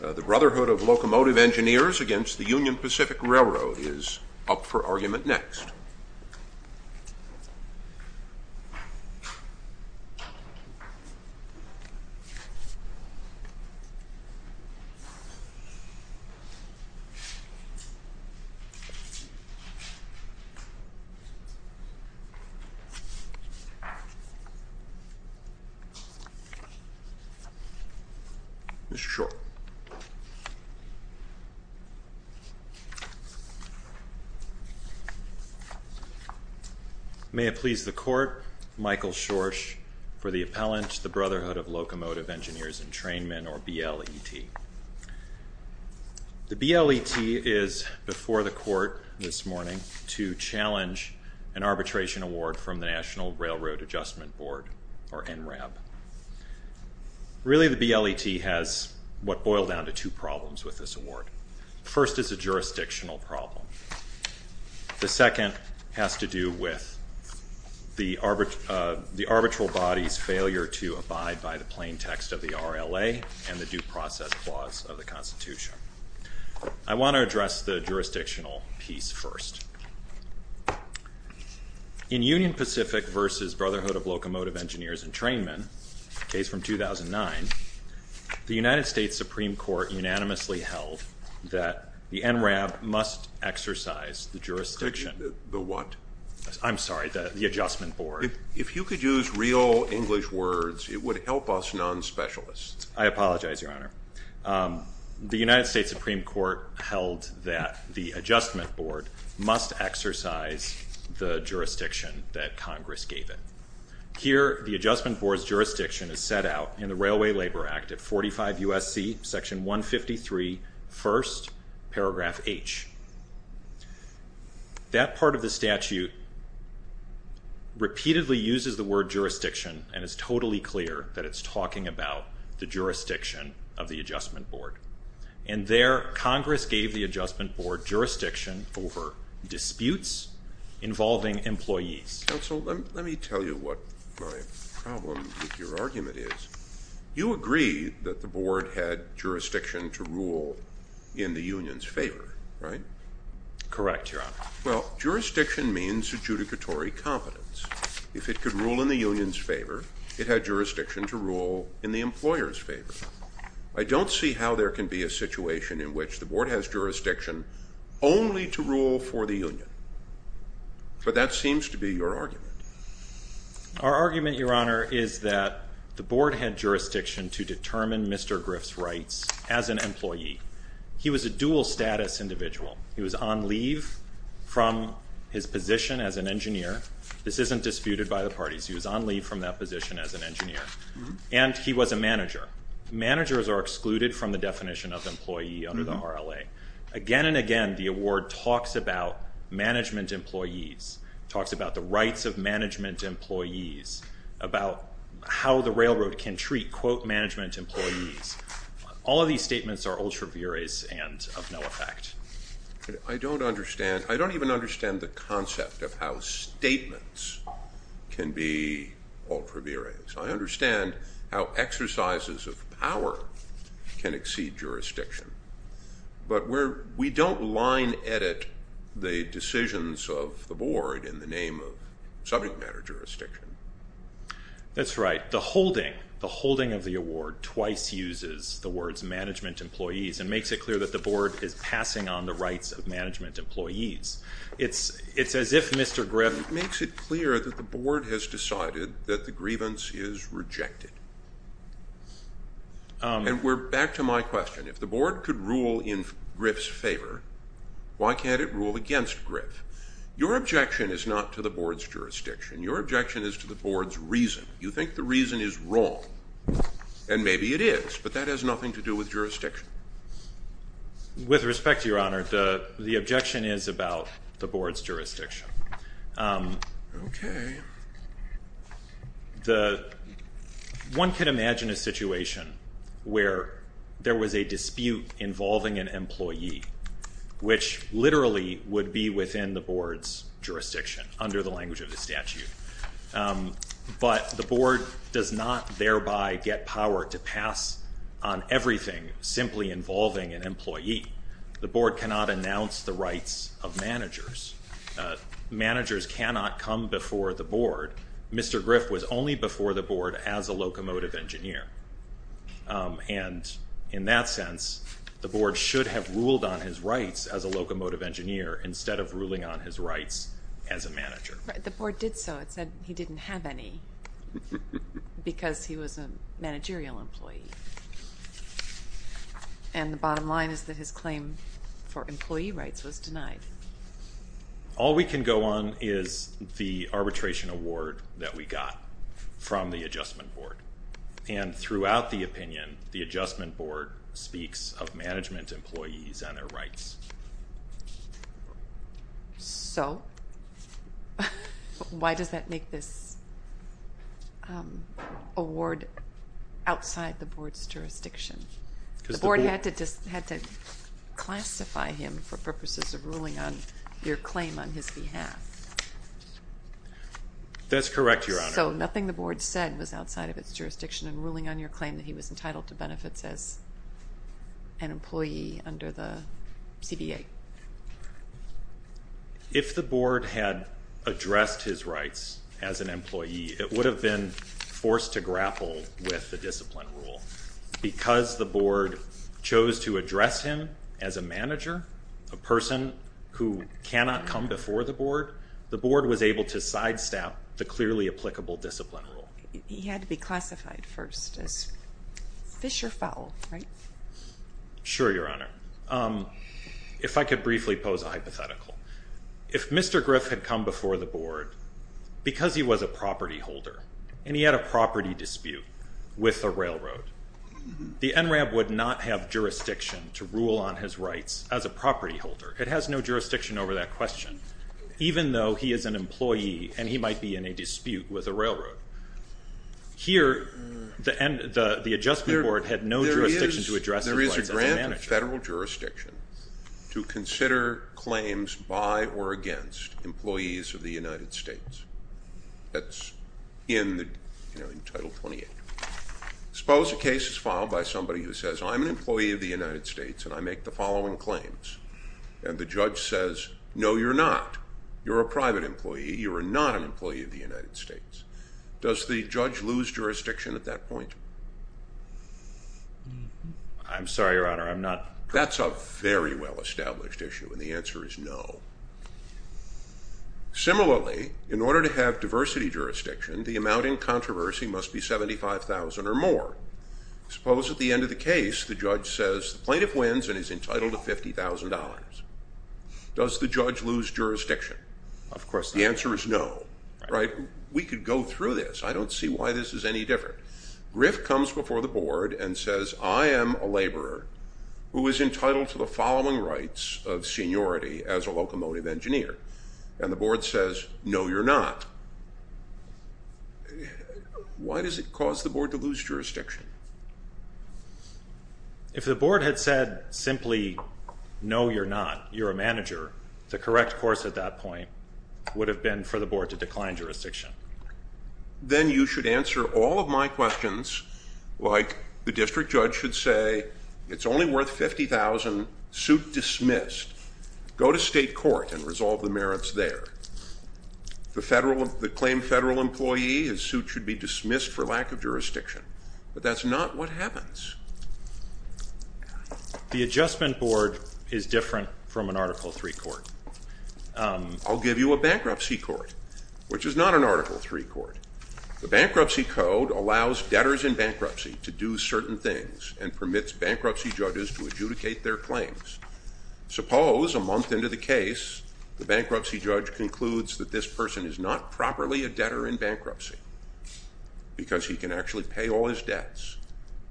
The Brotherhood of Locomotive Engineers v. Union Pacific Railroad is up for argument next. The Brotherhood of Locomotive Engineers v. Union Pacific Railroad is up for argument next. May it please the Court, Michael Schorsch for the appellant, the Brotherhood of Locomotive Engineers and Trainmen, or BLET. The BLET is before the Court this morning to challenge an arbitration award from the National Railroad Adjustment Board, or NRAB. Really, the BLET has what boiled down to two problems with this award. The first is a jurisdictional problem. The second has to do with the arbitral body's failure to abide by the plain text of the RLA and the Due Process Clause of the Constitution. I want to address the jurisdictional piece first. In Union Pacific v. Brotherhood of Locomotive Engineers and Trainmen, case from 2009, the United States Supreme Court unanimously held that the NRAB must exercise the jurisdiction. The what? I'm sorry, the Adjustment Board. If you could use real English words, it would help us non-specialists. I apologize, Your Honor. The United States Supreme Court held that the Adjustment Board must exercise the jurisdiction that Congress gave it. Here, the Adjustment Board's jurisdiction is set out in the Railway Labor Act at 45 U.S.C. section 153, first, paragraph H. That part of the statute repeatedly uses the word jurisdiction and it's totally clear that it's talking about the jurisdiction of the Adjustment Board. And there, Congress gave the Adjustment Board jurisdiction over disputes involving employees. Counsel, let me tell you what my problem with your argument is. You agree that the Board had jurisdiction to rule in the Union's favor, right? Correct, Your Honor. Well, jurisdiction means adjudicatory competence. If it could rule in the Union's favor, it had jurisdiction to rule in the employer's favor. I don't see how there can be a situation in which the Board has jurisdiction only to rule for the Union. But that seems to be your argument. Our argument, Your Honor, is that the Board had jurisdiction to determine Mr. Griff's rights as an employee. He was a dual-status individual. He was on leave from his position as an engineer. This isn't disputed by the parties. He was on leave from that position as an engineer. And he was a manager. Managers are excluded from the definition of employee under the RLA. Again and again, the award talks about management employees, talks about the rights of management employees, about how the railroad can treat, quote, management employees. All of these statements are ultra viris and of no effect. I don't understand. I don't even understand the concept of how statements can be ultra viris. I understand how exercises of power can exceed jurisdiction. But we don't line edit the decisions of the Board in the name of subject matter jurisdiction. That's right. The holding, the holding of the award twice uses the words management employees and makes it clear that the Board is passing on the rights of management employees. It's as if Mr. Griff makes it clear that the Board has decided that the grievance is rejected. And we're back to my question. If the Board could rule in Griff's favor, why can't it rule against Griff? Your objection is not to the Board's jurisdiction. Your objection is to the Board's reason. You think the reason is wrong. And maybe it is. But that has nothing to do with jurisdiction. With respect, Your Honor, the objection is about the Board's jurisdiction. Okay. The, one could imagine a situation where there was a dispute involving an employee which literally would be within the Board's jurisdiction under the language of the statute. But the Board does not thereby get power to pass on everything simply involving an employee. The Board cannot announce the rights of managers. Managers cannot come before the Board. Mr. Griff was only before the Board as a locomotive engineer. And in that sense, the Board should have ruled on his rights as a locomotive engineer instead of ruling on his rights as a manager. The Board did so. It said he didn't have any because he was a managerial employee. All we can go on is the arbitration award that we got from the Adjustment Board. And throughout the opinion, the Adjustment Board speaks of management employees and their rights. So, why does that make this award outside the Board's jurisdiction? Because the Board had to classify him for purposes of ruling on your claim on his behalf. That's correct, Your Honor. So, nothing the Board said was outside of its jurisdiction in ruling on your claim that he was entitled to benefits as an employee under the CBA. If the Board had addressed his rights as an employee, it would have been forced to grapple with the discipline rule. Because the Board chose to address him as a manager, a person who cannot come before the Board, the Board was able to sidestep the clearly applicable discipline rule. He had to be classified first as fish or fowl, right? Sure, Your Honor. If I could briefly pose a hypothetical. If Mr. Griff had come before the Board because he was a property holder and he had a property dispute with the railroad, the NRAB would not have jurisdiction to rule on his rights as a property holder. It has no jurisdiction over that question, even though he is an employee and he might be in a dispute with a railroad. Here, the Adjustment Board had no jurisdiction to address his rights as a manager. There is a grant of federal jurisdiction to consider claims by or against employees of the United States. That's in the, you know, in Title 28. Suppose a case is filed by somebody who says, I'm an employee of the United States and I make the following claims. And the judge says, no, you're not. You're a private employee. You are not an employee of the United States. Does the judge lose jurisdiction at that point? I'm sorry, Your Honor. I'm not. That's a very well-established issue and the answer is no. Similarly, in order to have diversity jurisdiction, the amount in controversy must be $75,000 or more. Suppose at the end of the case, the judge says, the plaintiff wins and is entitled to $50,000. Does the judge lose jurisdiction? Of course not. The answer is no. Right? We could go through this. I don't see why this is any different. Griff comes before the board and says, I am a laborer who is entitled to the following rights of seniority as a locomotive engineer. And the board says, no, you're not. Why does it cause the board to lose jurisdiction? If the board had said simply, no, you're not, you're a manager, the correct course at that point would have been for the board to decline jurisdiction. Then you should answer all of my questions like the district judge should say, it's only worth $50,000, suit dismissed. Go to state court and resolve the merits there. The claim federal employee, his suit should be dismissed for lack of jurisdiction. But that's not what happens. The adjustment board is different from an Article III court. I'll give you a bankruptcy court, which is not an Article III court. The bankruptcy code allows debtors in bankruptcy to do certain things and permits bankruptcy judges to adjudicate their claims. Suppose a month into the case, the bankruptcy judge concludes that this person is not properly a debtor in bankruptcy because he can actually pay all his debts.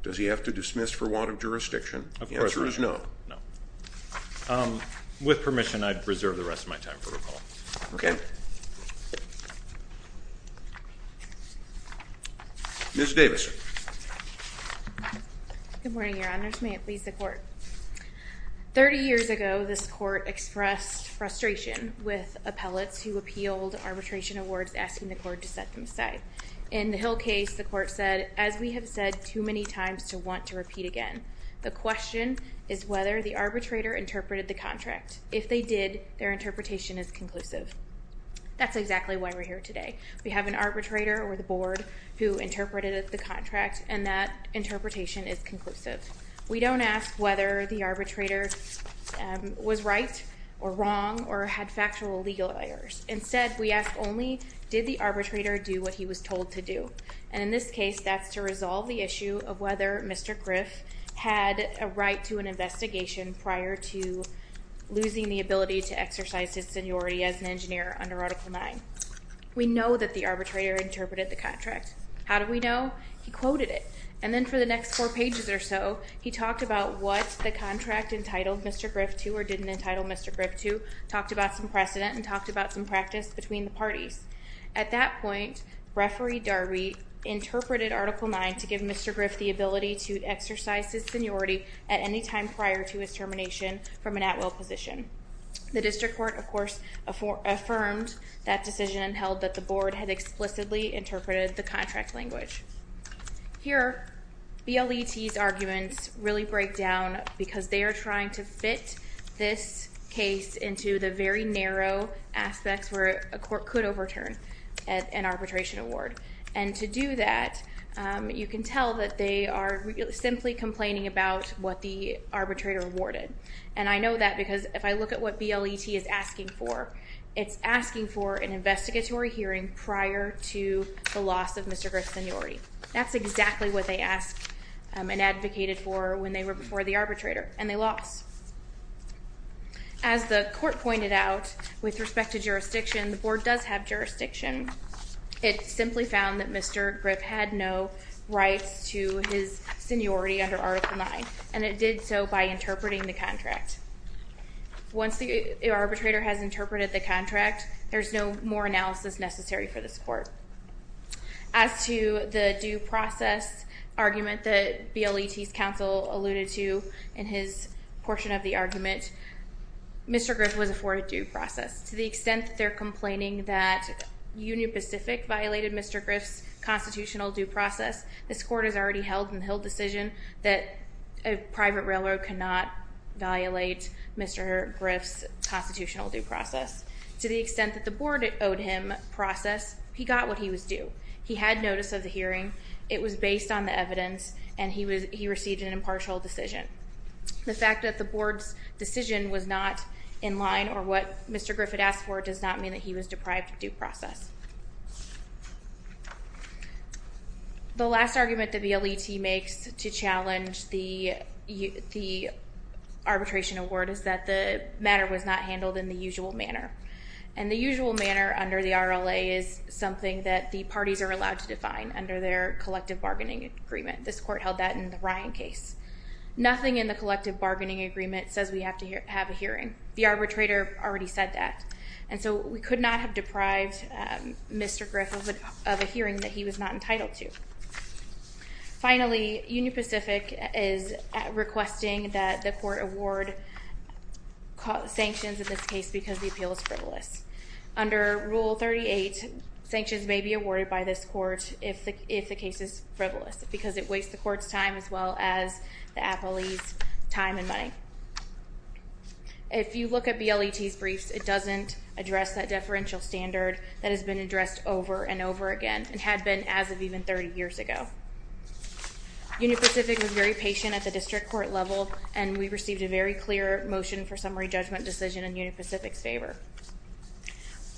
Does he have to dismiss for want of jurisdiction? The answer is no. No. With permission, I'd reserve the rest of my time for recall. Okay. Ms. Davis. Good morning, Your Honors. May it please the court. 30 years ago, this court expressed frustration with appellates who appealed arbitration awards asking the court to set them aside. In the Hill case, the court said, as we have said too many times to want to repeat again, the question is whether the arbitrator interpreted the contract. If they did, their interpretation is conclusive. That's exactly why we're here today. We have an arbitrator or the board who interpreted the contract and that interpretation is conclusive. We don't ask whether the arbitrator was right or wrong or had factual legal errors. Instead, we ask only, did the arbitrator do what he was told to do? And in this case, that's to resolve the issue of whether Mr. Griff had a right to an investigation prior to losing the ability to exercise his seniority as an engineer under Article IX. We know that the arbitrator interpreted the contract. How do we know? He quoted it. And then for the next four pages or so, he talked about what the contract entitled Mr. Griff to or didn't entitle Mr. Griff to, talked about some precedent, and talked about some practice between the parties. At that point, Referee Darby interpreted Article IX to give Mr. Griff the ability to exercise his seniority at any time prior to his termination from an at-will position. The district court, of course, affirmed that decision and held that the board had explicitly interpreted the contract language. Here, BLET's arguments really break down because they are trying to fit this case into the very narrow aspects where a court could overturn an arbitration award. And to do that, you can tell that they are simply complaining about what the arbitrator awarded. And I know that because if I look at what BLET is asking for, it's asking for an investigatory hearing prior to the loss of Mr. Griff's seniority. That's exactly what they asked and advocated for when they were before the arbitrator, and they lost. As the court pointed out, with respect to jurisdiction, the board does have jurisdiction. It simply found that Mr. Griff had no rights to his seniority under Article IX, and it did so by interpreting the contract. Once the arbitrator has interpreted the contract, there's no more analysis necessary for this court. As to the due process argument that BLET's counsel alluded to in his portion of the argument, Mr. Griff was afforded due process. To the extent that they're complaining that Union Pacific violated Mr. Griff's constitutional due process, this court has already held in the Hill decision that a private railroad cannot violate Mr. Griff's constitutional due process. To the extent that the board owed him process, he got what he was due. He had notice of the hearing. It was based on the evidence, and he received an impartial decision. The fact that the board's decision was not in line or what Mr. Griff had asked for does not mean that he was deprived of due process. The last argument that BLET makes to challenge the arbitration award is that the matter was not handled in the usual manner, and the usual manner under the RLA is something that the parties are allowed to define under their collective bargaining agreement. This court held that in the Ryan case. Nothing in the collective bargaining agreement says we have to have a hearing. The arbitrator already said that, and so we could not have deprived Mr. Griff of a hearing that he was not entitled to. Finally, Union Pacific is requesting that the court award sanctions in this case because the appeal is frivolous. Under Rule 38, sanctions may be awarded by this court if the case is frivolous because it wastes the court's time as well as the appellee's time and money. If you look at BLET's briefs, it doesn't address that deferential standard that has been addressed over and over again and had been as of even 30 years ago. Union Pacific was very patient at the district court level, and we received a very clear motion for summary judgment decision in Union Pacific's favor.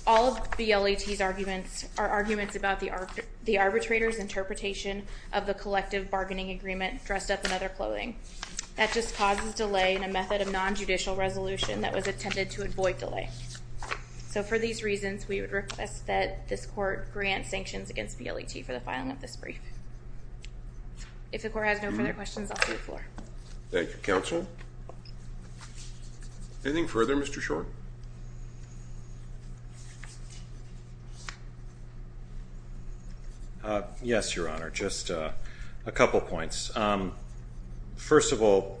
All of BLET's arguments are arguments about the arbitrator's interpretation of the collective bargaining agreement dressed up in other clothing. That just causes delay in a method of non-judicial resolution that was intended to avoid delay. So for these reasons, we would request that this court grant sanctions against BLET for the filing of this brief. If the court has no further questions, I'll see you at the floor. Thank you, counsel. Anything further, Mr. Short? Yes, Your Honor. Just a couple points. First of all,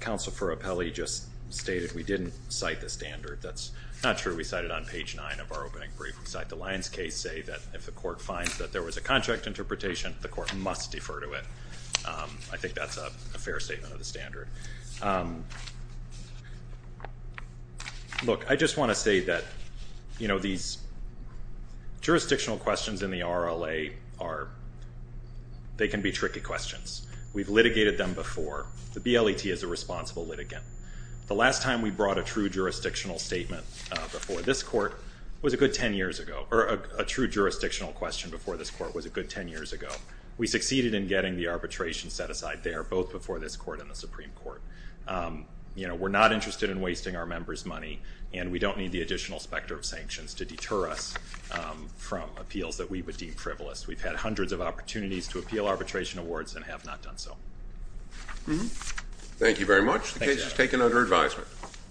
counsel for appellee just stated we didn't cite the standard. That's not true. We cited on page 9 of our opening brief. We cite the Lyons case, say that if the court finds that there was a contract interpretation, the court must defer to it. I think that's a fair statement of the standard. Look, I just want to say that these jurisdictional questions in the RLA they can be tricky questions. We've litigated them before. The BLET is a responsible litigant. The last time we brought a true jurisdictional statement before this court was a good 10 years ago. A true jurisdictional question before this court was a good 10 years ago. We succeeded in getting the arbitration set aside there We're not interested in wasting our members' money and we don't need the additional specter of sanctions to deter us from appeals that we would deem privileged. We've had hundreds of opportunities to appeal arbitration awards and have not done so. Thank you very much. The case is taken under advisement.